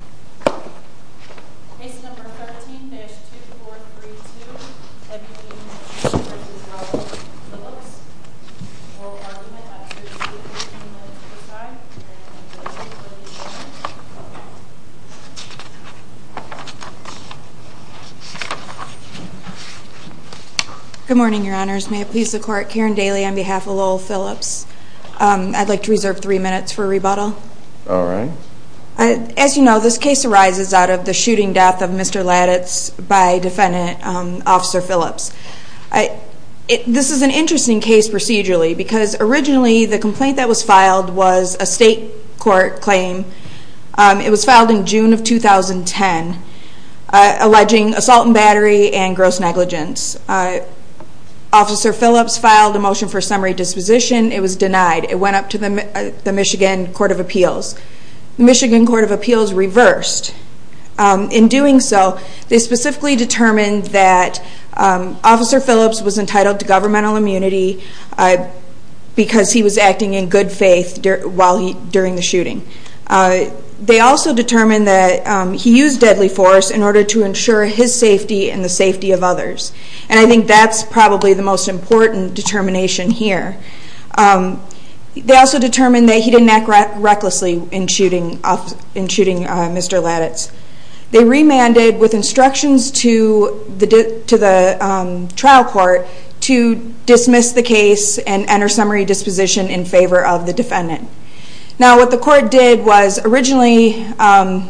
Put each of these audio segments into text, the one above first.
Case number 13-2432, Ebenezer v. Lowell Phillips, oral argument. I'm sure you can see it from the other side. Good morning, your honors. May it please the court, Karen Daly on behalf of Lowell Phillips. I'd like to reserve three minutes for rebuttal. Alright. As you know, this case arises out of the shooting death of Mr. Latits by defendant Officer Phillips. This is an interesting case procedurally because originally the complaint that was filed was a state court claim. It was filed in June of 2010, alleging assault and battery and gross negligence. Officer Phillips filed a motion for summary disposition. It was denied. It went up to the Michigan Court of Appeals. The Michigan Court of Appeals reversed. In doing so, they specifically determined that Officer Phillips was entitled to governmental immunity because he was acting in good faith during the shooting. They also determined that he used deadly force in order to ensure his safety and the safety of others. And I think that's probably the most important determination here. They also determined that he didn't act recklessly in shooting Mr. Latits. They remanded with instructions to the trial court to dismiss the case and enter summary disposition in favor of the defendant. Now what the court did was originally,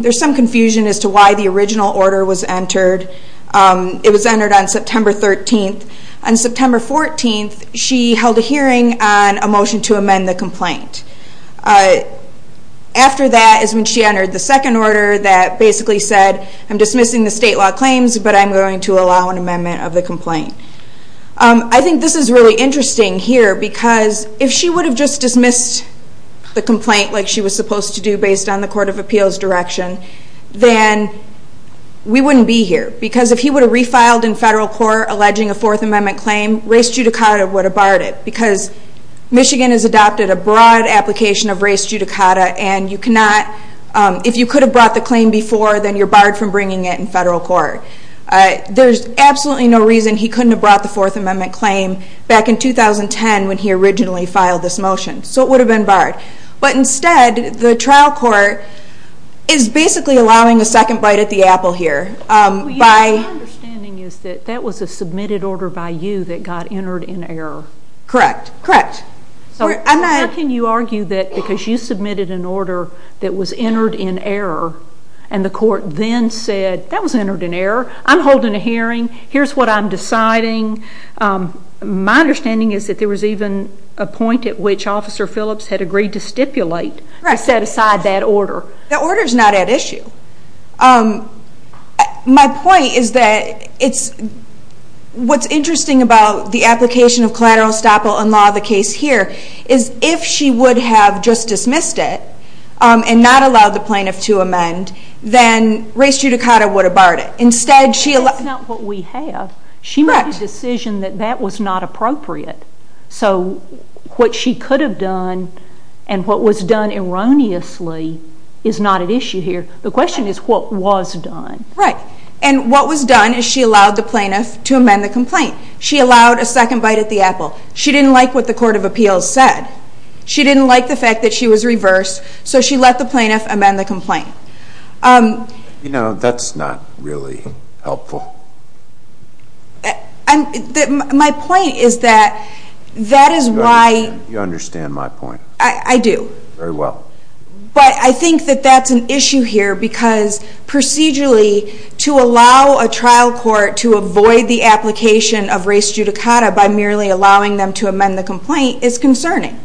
there's some confusion as to why the original order was entered. It was entered on September 13th. On September 14th, she held a hearing on a motion to amend the complaint. After that is when she entered the second order that basically said, I'm dismissing the state law claims, but I'm going to allow an amendment of the complaint. I think this is really interesting here because if she would have just dismissed the complaint like she was supposed to do based on the court of appeals direction, then we wouldn't be here. Because if he would have refiled in federal court alleging a Fourth Amendment claim, race judicata would have barred it. Because Michigan has adopted a broad application of race judicata and if you could have brought the claim before, then you're barred from bringing it in federal court. There's absolutely no reason he couldn't have brought the Fourth Amendment claim back in 2010 when he originally filed this motion. So it would have been barred. But instead, the trial court is basically allowing a second bite at the apple here. My understanding is that that was a submitted order by you that got entered in error. Correct. How can you argue that because you submitted an order that was entered in error and the court then said, that was entered in error, I'm holding a hearing, here's what I'm deciding. My understanding is that there was even a point at which Officer Phillips had agreed to stipulate and set aside that order. That order's not at issue. My point is that what's interesting about the application of collateral estoppel in law of the case here is if she would have just dismissed it and not allowed the plaintiff to amend, then race judicata would have barred it. That's not what we have. She made a decision that that was not appropriate. So what she could have done and what was done erroneously is not at issue here. The question is what was done. Right. And what was done is she allowed the plaintiff to amend the complaint. She allowed a second bite at the apple. She didn't like what the court of appeals said. She didn't like the fact that she was reversed, so she let the plaintiff amend the complaint. You know, that's not really helpful. My point is that that is why... You understand my point. I do. Very well. But I think that that's an issue here because procedurally, to allow a trial court to avoid the application of race judicata by merely allowing them to amend the complaint is concerning.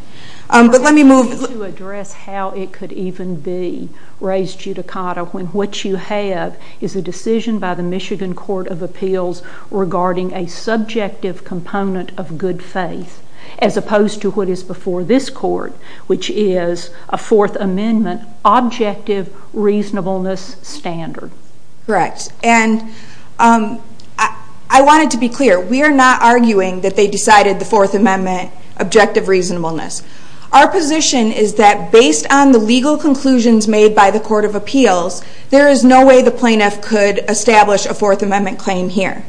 To address how it could even be race judicata when what you have is a decision by the Michigan Court of Appeals regarding a subjective component of good faith, as opposed to what is before this court, which is a Fourth Amendment objective reasonableness standard. Correct. And I wanted to be clear. We are not arguing that they decided the Fourth Amendment objective reasonableness. Our position is that based on the legal conclusions made by the court of appeals, there is no way the plaintiff could establish a Fourth Amendment claim here.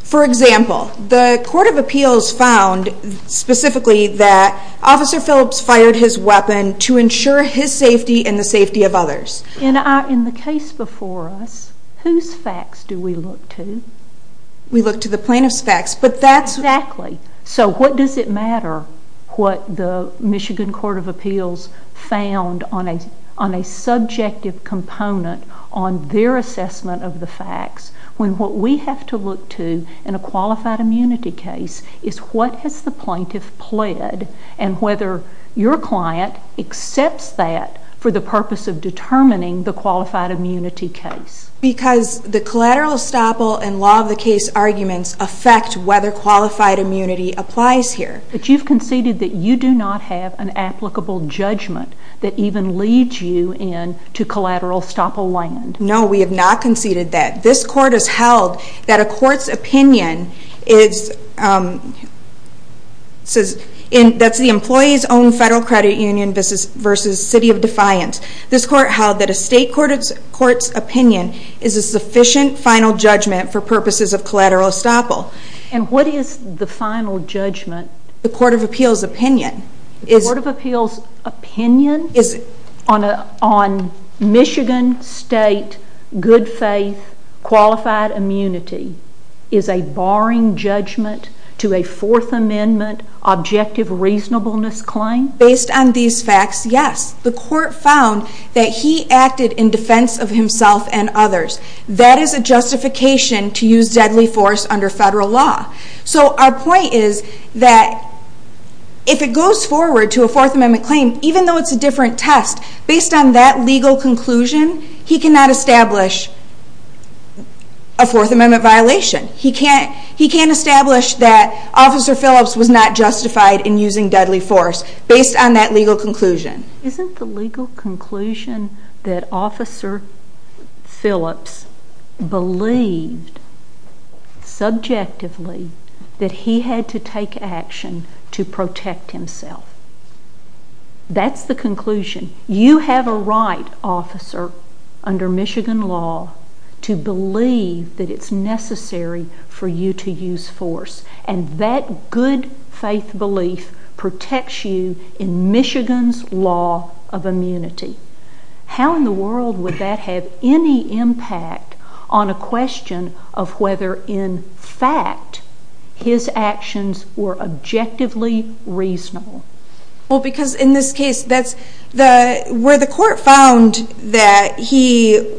For example, the court of appeals found specifically that Officer Phillips fired his weapon to ensure his safety and the safety of others. In the case before us, whose facts do we look to? We look to the plaintiff's facts. Exactly. So what does it matter what the Michigan Court of Appeals found on a subjective component on their assessment of the facts when what we have to look to in a qualified immunity case is what has the plaintiff pled and whether your client accepts that for the purpose of determining the qualified immunity case. Because the collateral estoppel and law of the case arguments affect whether qualified immunity applies here. But you've conceded that you do not have an applicable judgment that even leads you into collateral estoppel land. No, we have not conceded that. This court has held that a court's opinion is that's the employee's own federal credit union versus city of defiance. This court held that a state court's opinion is a sufficient final judgment for purposes of collateral estoppel. And what is the final judgment? The court of appeals opinion. The court of appeals opinion on Michigan State good faith qualified immunity is a barring judgment to a Fourth Amendment objective reasonableness claim? Based on these facts, yes. The court found that he acted in defense of himself and others. That is a justification to use deadly force under federal law. So our point is that if it goes forward to a Fourth Amendment claim, even though it's a different test, based on that legal conclusion, he cannot establish a Fourth Amendment violation. He can't establish that Officer Phillips was not justified in using deadly force based on that legal conclusion. Isn't the legal conclusion that Officer Phillips believed subjectively that he had to take action to protect himself? That's the conclusion. You have a right, officer, under Michigan law, to believe that it's necessary for you to use force. And that good faith belief protects you in Michigan's law of immunity. How in the world would that have any impact on a question of whether in fact his actions were objectively reasonable? Because in this case, where the court found that he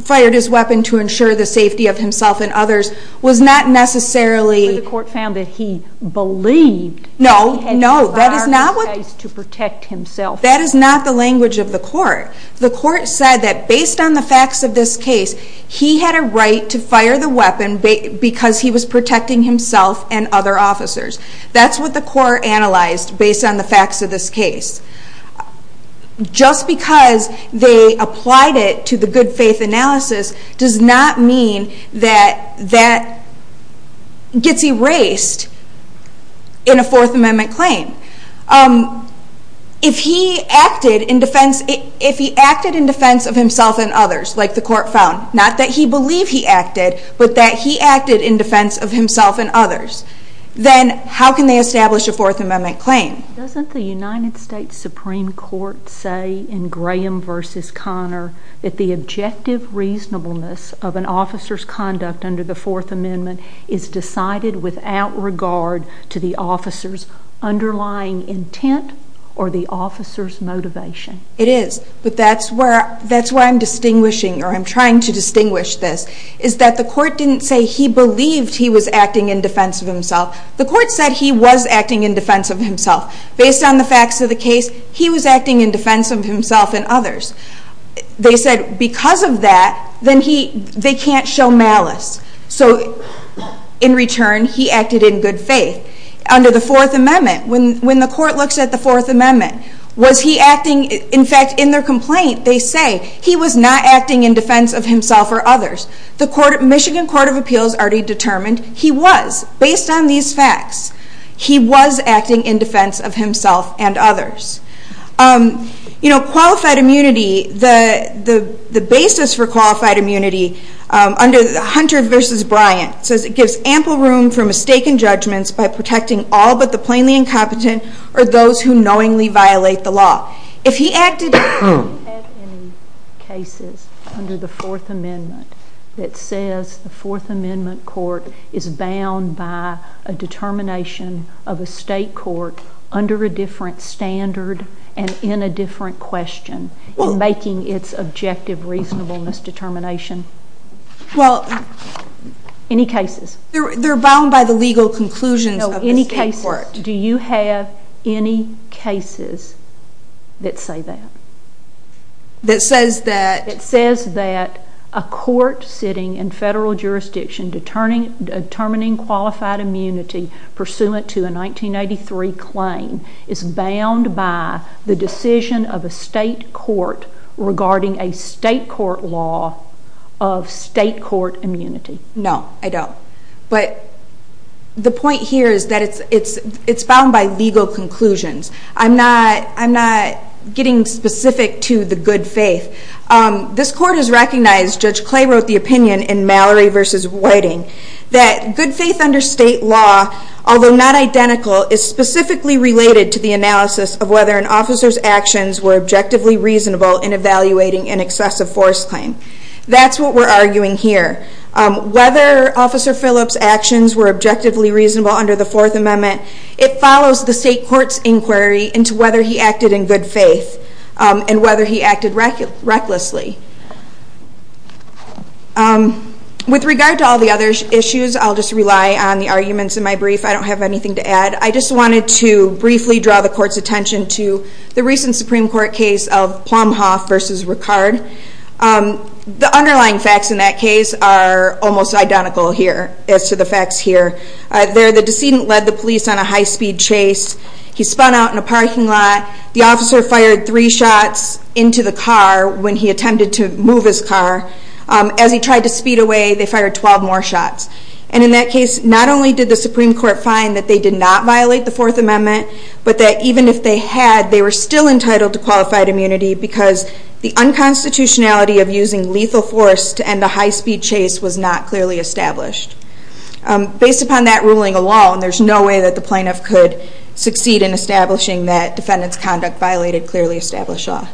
fired his weapon to ensure the safety of himself and others was not necessarily where the court found that he believed that he had to fire his weapon to protect himself. That is not the language of the court. The court said that based on the facts of this case, he had a right to fire the weapon because he was protecting himself and other officers. That's what the court analyzed based on the facts of this case. Just because they applied it to the good faith analysis does not mean that that gets erased in a Fourth Amendment claim. If he acted in defense of himself and others, like the court found, not that he believed he acted, but that he acted in defense of himself and others, then how can they establish a Fourth Amendment claim? Doesn't the United States Supreme Court say in Graham v. Conner that the objective reasonableness of an officer's conduct under the Fourth Amendment is decided without regard to the officer's underlying intent or the officer's motivation? It is. But that's why I'm distinguishing, or I'm trying to distinguish this, is that the court didn't say he believed he was acting in defense of himself. The court said he was acting in defense of himself. Based on the facts of the case, he was acting in defense of himself and others. They said because of that, then they can't show malice. So in return, he acted in good faith. Under the Fourth Amendment, when the court looks at the Fourth Amendment, was he acting? In fact, in their complaint, they say he was not acting in defense of himself or others. The Michigan Court of Appeals already determined he was. Based on these facts, he was acting in defense of himself and others. You know, qualified immunity, the basis for qualified immunity under Hunter v. Bryant says it gives ample room for mistaken judgments by protecting all but the plainly incompetent or those who knowingly violate the law. If he acted... We don't have any cases under the Fourth Amendment that says the Fourth Amendment court is bound by a determination of a state court under a different standard and in a different question in making its objective reasonableness determination. Well... Any cases? They're bound by the legal conclusions of the state court. Do you have any cases that say that? That says that... That says that a court sitting in federal jurisdiction determining qualified immunity pursuant to a 1983 claim is bound by the decision of a state court regarding a state court law of state court immunity. No, I don't. But the point here is that it's bound by legal conclusions. I'm not getting specific to the good faith. This court has recognized, Judge Clay wrote the opinion in Mallory v. Whiting, that good faith under state law, although not identical, is specifically related to the analysis of whether an officer's actions were objectively reasonable in evaluating an excessive force claim. That's what we're arguing here. Whether Officer Phillips' actions were objectively reasonable under the Fourth Amendment, it follows the state court's inquiry into whether he acted in good faith and whether he acted recklessly. With regard to all the other issues, I'll just rely on the arguments in my brief. I don't have anything to add. I just wanted to briefly draw the court's attention to the recent Supreme Court case of Plumhoff v. Ricard. The underlying facts in that case are almost identical here as to the facts here. There, the decedent led the police on a high-speed chase. He spun out in a parking lot. The officer fired three shots into the car when he attempted to move his car. As he tried to speed away, they fired 12 more shots. In that case, not only did the Supreme Court find that they did not violate the Fourth Amendment, but that even if they had, they were still entitled to qualified immunity because the unconstitutionality of using lethal force to end a high-speed chase was not clearly established. Based upon that ruling alone, there's no way that the plaintiff could succeed in establishing that defendant's conduct violated clearly established law.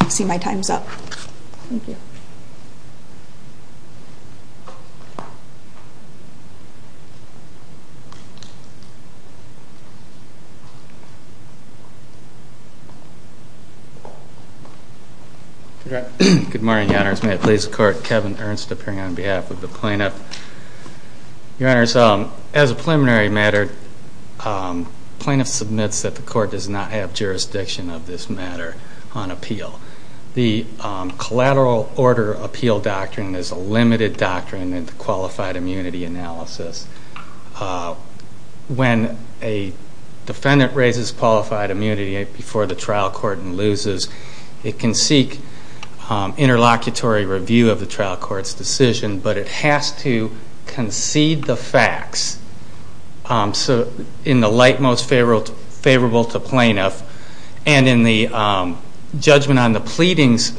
I see my time's up. Thank you. Good morning, Your Honors. May it please the Court, Kevin Ernst appearing on behalf of the plaintiff. Your Honors, as a preliminary matter, plaintiff submits that the Court does not have jurisdiction of this matter on appeal. The collateral order appeal doctrine is a limited doctrine in the qualified immunity analysis. When a defendant raises qualified immunity before the trial court and loses, it can seek interlocutory review of the trial court's decision, but it has to concede the facts in the light most favorable to plaintiff, and in the judgment on the pleadings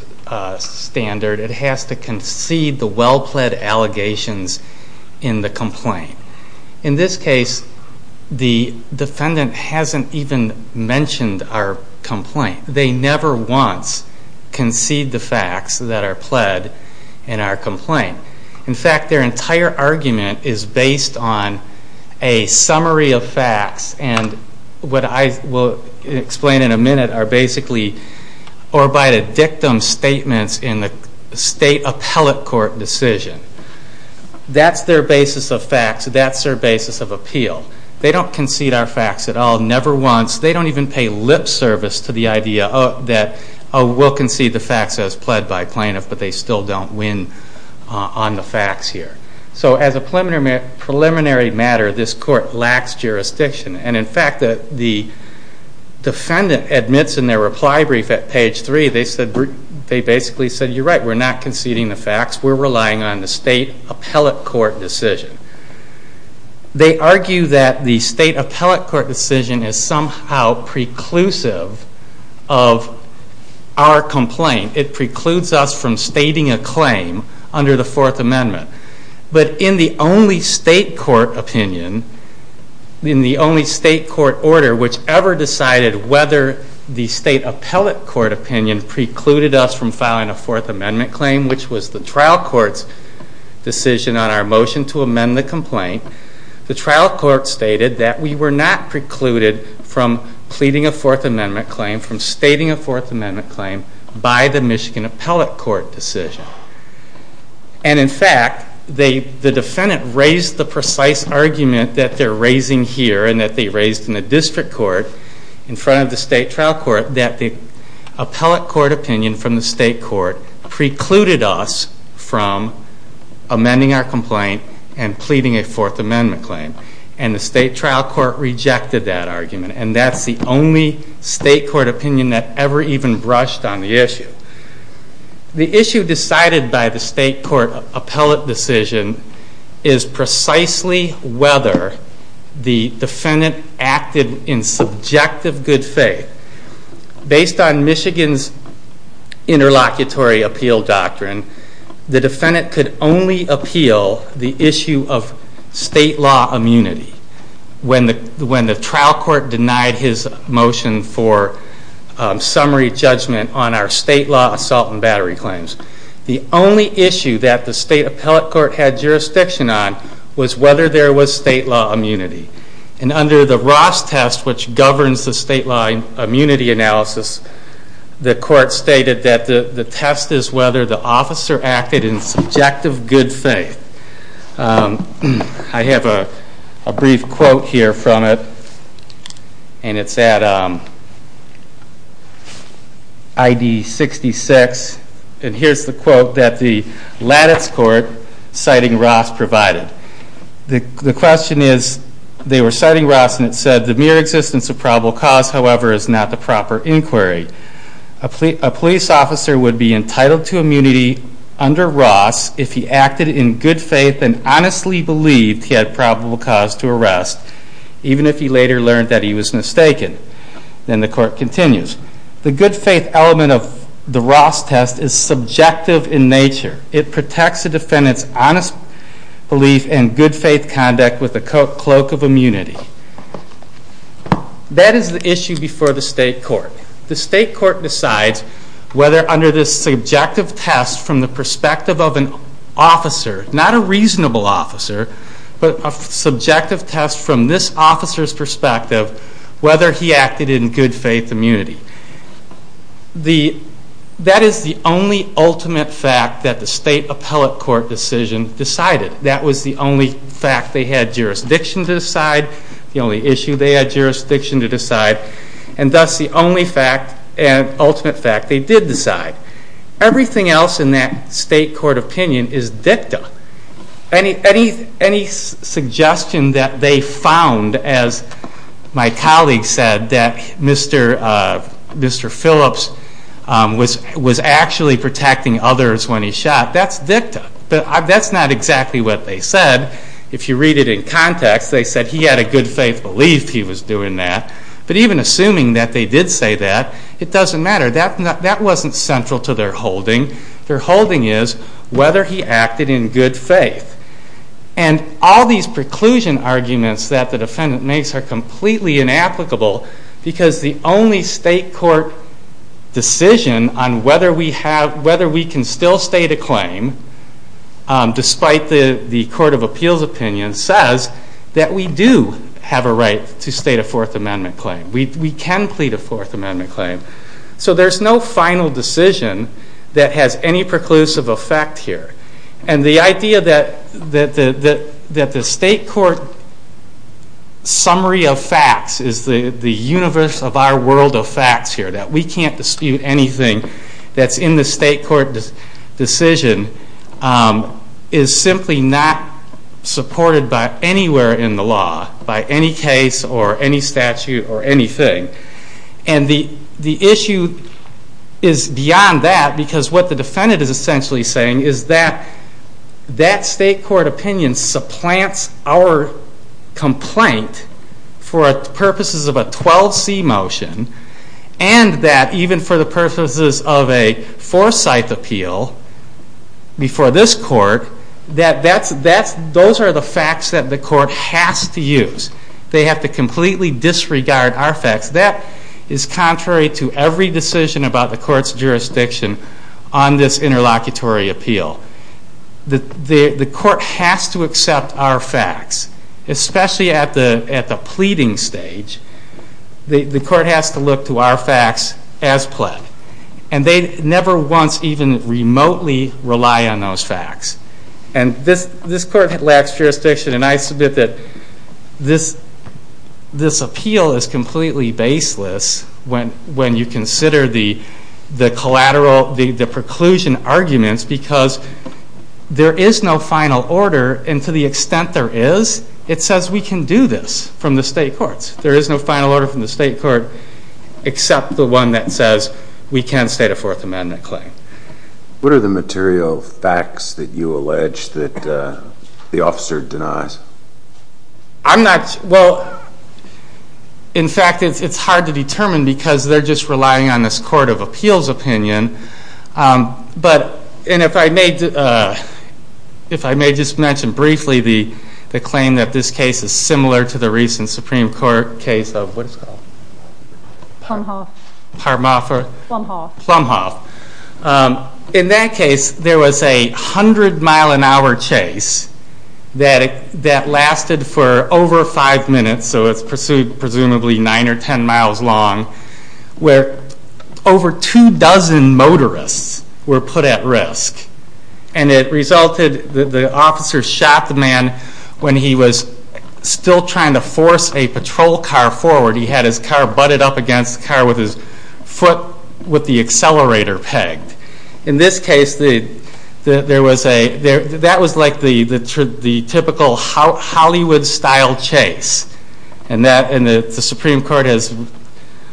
standard, it has to concede the well-pled allegations in the complaint. In this case, the defendant hasn't even mentioned our complaint. They never once concede the facts that are pled in our complaint. In fact, their entire argument is based on a summary of facts, and what I will explain in a minute are basically orbited dictum statements in the state appellate court decision. That's their basis of facts. That's their basis of appeal. They don't concede our facts at all, never once. They don't even pay lip service to the idea that we'll concede the facts as pled by plaintiff, but they still don't win on the facts here. So as a preliminary matter, this court lacks jurisdiction, and in fact, the defendant admits in their reply brief at page 3, they basically said, you're right, we're not conceding the facts. We're relying on the state appellate court decision. They argue that the state appellate court decision is somehow preclusive of our complaint. It precludes us from stating a claim under the Fourth Amendment, but in the only state court opinion, in the only state court order which ever decided whether the state appellate court opinion precluded us from filing a Fourth Amendment claim, which was the trial court's decision on our motion to amend the complaint, the trial court stated that we were not precluded from pleading a Fourth Amendment claim, from stating a Fourth Amendment claim by the Michigan appellate court decision. And in fact, the defendant raised the precise argument that they're raising here and that they raised in the district court in front of the state trial court that the appellate court opinion from the state court precluded us from amending our complaint and pleading a Fourth Amendment claim. And the state trial court rejected that argument and that's the only state court opinion that ever even brushed on the issue. The issue decided by the state court appellate decision is precisely whether the defendant acted in subjective good faith. Based on Michigan's interlocutory appeal doctrine, the defendant could only appeal the issue of state law immunity when the trial court denied his motion for summary judgment on our state law assault and battery claims. The only issue that the state appellate court had jurisdiction on was whether there was state law immunity. And under the Ross test, which governs the state law immunity analysis, the court stated that the test is whether the officer acted in subjective good faith. I have a brief quote here from it, and it's at ID 66. And here's the quote that the lattice court citing Ross provided. The question is, they were citing Ross and it said, the mere existence of probable cause, however, is not the proper inquiry. A police officer would be entitled to immunity under Ross if he acted in good faith and honestly believed he had probable cause to arrest, even if he later learned that he was mistaken. Then the court continues. The good faith element of the Ross test is subjective in nature. It protects the defendant's honest belief and good faith conduct with a cloak of immunity. That is the issue before the state court. The state court decides whether under this subjective test from the perspective of an officer, not a reasonable officer, but a subjective test from this officer's perspective, whether he acted in good faith immunity. That is the only ultimate fact that the state appellate court decision decided. That was the only fact they had jurisdiction to decide, the only issue they had jurisdiction to decide, and thus the only fact and ultimate fact they did decide. Everything else in that state court opinion is dicta. Any suggestion that they found, as my colleague said, that Mr. Phillips was actually protecting others when he shot, that's dicta. That's not exactly what they said. If you read it in context, they said he had a good faith belief he was doing that. But even assuming that they did say that, it doesn't matter. That wasn't central to their holding. Their holding is whether he acted in good faith. And all these preclusion arguments that the defendant makes are completely inapplicable because the only state court decision on whether we can still state a claim, despite the court of appeals opinion, says that we do have a right to state a Fourth Amendment claim. We can plead a Fourth Amendment claim. So there's no final decision that has any preclusive effect here. And the idea that the state court summary of facts is the universe of our world of facts here, that we can't dispute anything that's in the state court decision, is simply not supported by anywhere in the law, by any case or any statute or anything. And the issue is beyond that because what the defendant is essentially saying is that that state court opinion supplants our complaint for purposes of a 12C motion and that even for the purposes of a foresight appeal, before this court, those are the facts that the court has to use. They have to completely disregard our facts. That is contrary to every decision about the court's jurisdiction on this interlocutory appeal. The court has to accept our facts, especially at the pleading stage. The court has to look to our facts as pled. And they never once even remotely rely on those facts. And this court lacks jurisdiction. And I submit that this appeal is completely baseless when you consider the collateral, the preclusion arguments because there is no final order and to the extent there is, it says we can do this from the state courts. There is no final order from the state court except the one that says we can state a Fourth Amendment claim. What are the material facts that you allege that the officer denies? Well, in fact, it's hard to determine because they're just relying on this court of appeals opinion. And if I may just mention briefly the claim that this case is similar to the recent Supreme Court case of Plumhoff. In that case, there was a 100-mile-an-hour chase that lasted for over five minutes, so it's presumably nine or ten miles long, where over two dozen motorists were put at risk. And it resulted, the officer shot the man when he was still trying to force a patrol car forward and he had his car butted up against the car with his foot with the accelerator pegged. In this case, that was like the typical Hollywood-style chase. And the Supreme Court has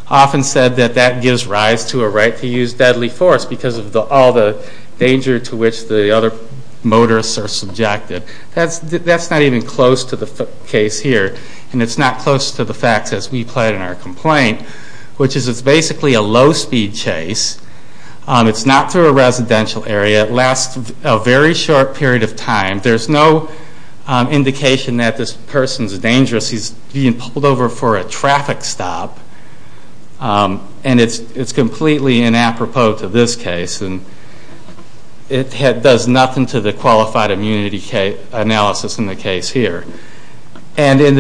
often said that that gives rise to a right to use deadly force because of all the danger to which the other motorists are subjected. That's not even close to the case here and it's not close to the facts as we played in our complaint, which is it's basically a low-speed chase. It's not through a residential area. It lasts a very short period of time. There's no indication that this person's dangerous. He's being pulled over for a traffic stop and it's completely inappropriate to this case. It does nothing to the qualified immunity analysis in the case here. And in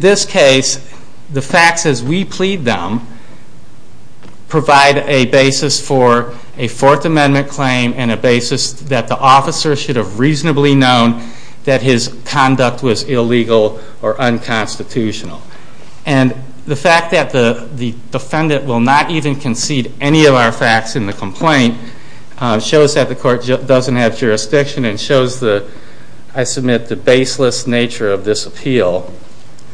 this case, the facts as we plead them provide a basis for a Fourth Amendment claim and a basis that the officer should have reasonably known that his conduct was illegal or unconstitutional. And the fact that the defendant will not even concede any of our facts in the complaint shows that the court doesn't have jurisdiction and shows, I submit, the baseless nature of this appeal.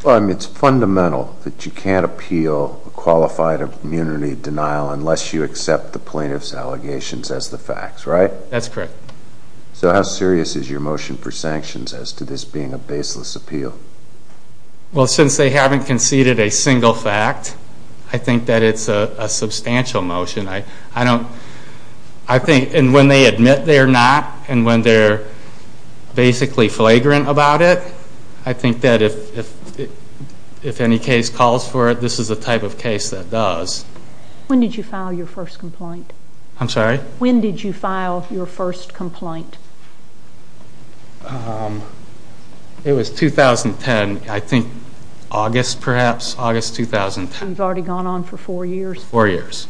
Well, I mean, it's fundamental that you can't appeal a qualified immunity denial unless you accept the plaintiff's allegations as the facts, right? That's correct. So how serious is your motion for sanctions as to this being a baseless appeal? Well, since they haven't conceded a single fact, I think that it's a substantial motion. And when they admit they're not and when they're basically flagrant about it, I think that if any case calls for it, this is the type of case that does. When did you file your first complaint? I'm sorry? When did you file your first complaint? It was 2010, I think August, perhaps, August 2010. You've already gone on for four years? Four years.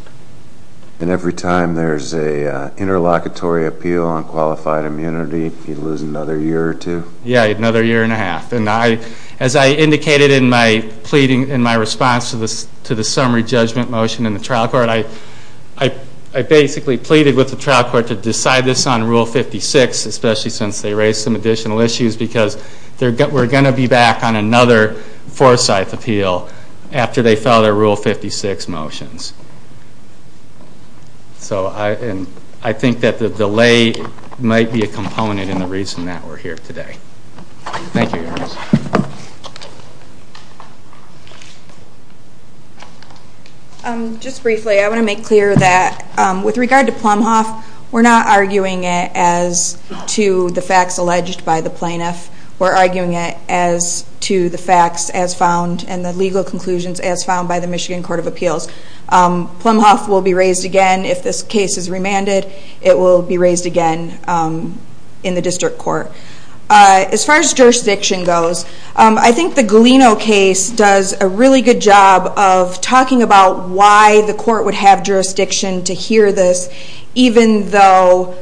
And every time there's an interlocutory appeal on qualified immunity, you lose another year or two? Yeah, another year and a half. And as I indicated in my response to the summary judgment motion in the trial court, I basically pleaded with the trial court to decide this on Rule 56, especially since they raised some additional issues because we're going to be back on another Forsyth appeal after they file their Rule 56 motions. So I think that the delay might be a component in the reason that we're here today. Thank you, Your Honor. Just briefly, I want to make clear that with regard to Plumhoff, we're not arguing it as to the facts alleged by the plaintiff. We're arguing it as to the facts as found and the legal conclusions as found by the Michigan Court of Appeals. Plumhoff will be raised again. If this case is remanded, it will be raised again in the district court. As far as jurisdiction goes, I think the Galeno case does a really good job of talking about why the court would have jurisdiction to hear this even though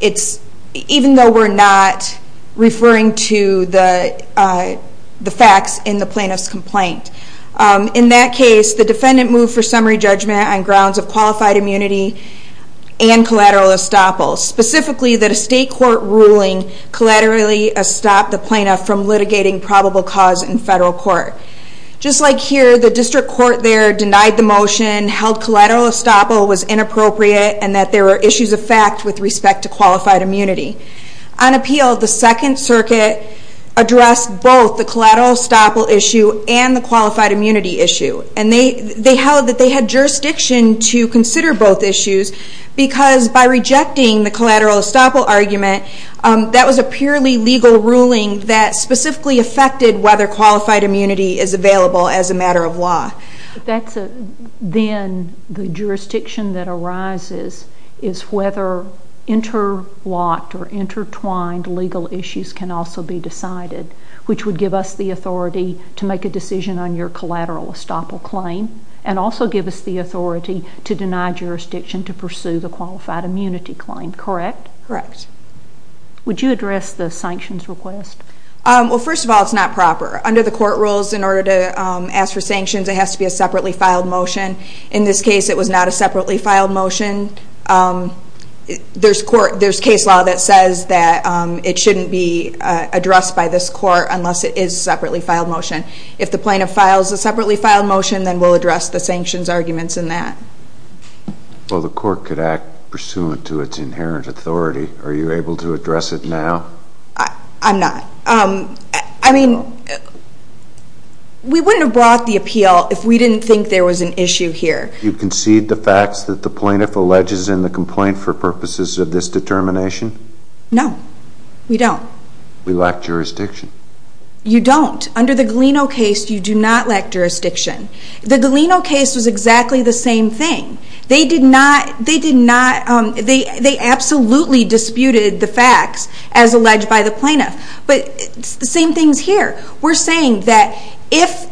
we're not referring to the facts in the plaintiff's complaint. In that case, the defendant moved for summary judgment on grounds of qualified immunity and collateral estoppel, specifically that a state court ruling collaterally stopped the plaintiff from litigating probable cause in federal court. Just like here, the district court there denied the motion, held collateral estoppel was inappropriate, and that there were issues of fact with respect to qualified immunity. On appeal, the Second Circuit addressed both the collateral estoppel issue and the qualified immunity issue. They held that they had jurisdiction to consider both issues because by rejecting the collateral estoppel argument, that was a purely legal ruling that specifically affected whether qualified immunity is available as a matter of law. Then the jurisdiction that arises is whether interlocked or intertwined legal issues can also be decided, which would give us the authority to make a decision on your collateral estoppel claim and also give us the authority to deny jurisdiction to pursue the qualified immunity claim, correct? Correct. Would you address the sanctions request? Well, first of all, it's not proper. Under the court rules, in order to ask for sanctions, it has to be a separately filed motion. In this case, it was not a separately filed motion. There's case law that says that it shouldn't be addressed by this court unless it is a separately filed motion. If the plaintiff files a separately filed motion, then we'll address the sanctions arguments in that. Well, the court could act pursuant to its inherent authority. Are you able to address it now? I'm not. I mean, we wouldn't have brought the appeal if we didn't think there was an issue here. You concede the facts that the plaintiff alleges in the complaint for purposes of this determination? No, we don't. We lack jurisdiction. You don't. Under the Galeno case, you do not lack jurisdiction. The Galeno case was exactly the same thing. They did not... They absolutely disputed the facts as alleged by the plaintiff, but it's the same things here. We're saying that if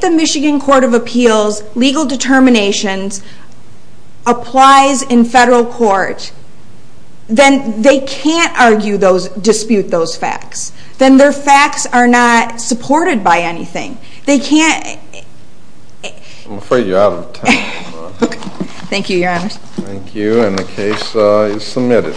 the Michigan Court of Appeals legal determinations applies in federal court, then they can't dispute those facts. Then their facts are not supported by anything. They can't... I'm afraid you're out of time. Okay. Thank you, Your Honor. Thank you, and the case is submitted.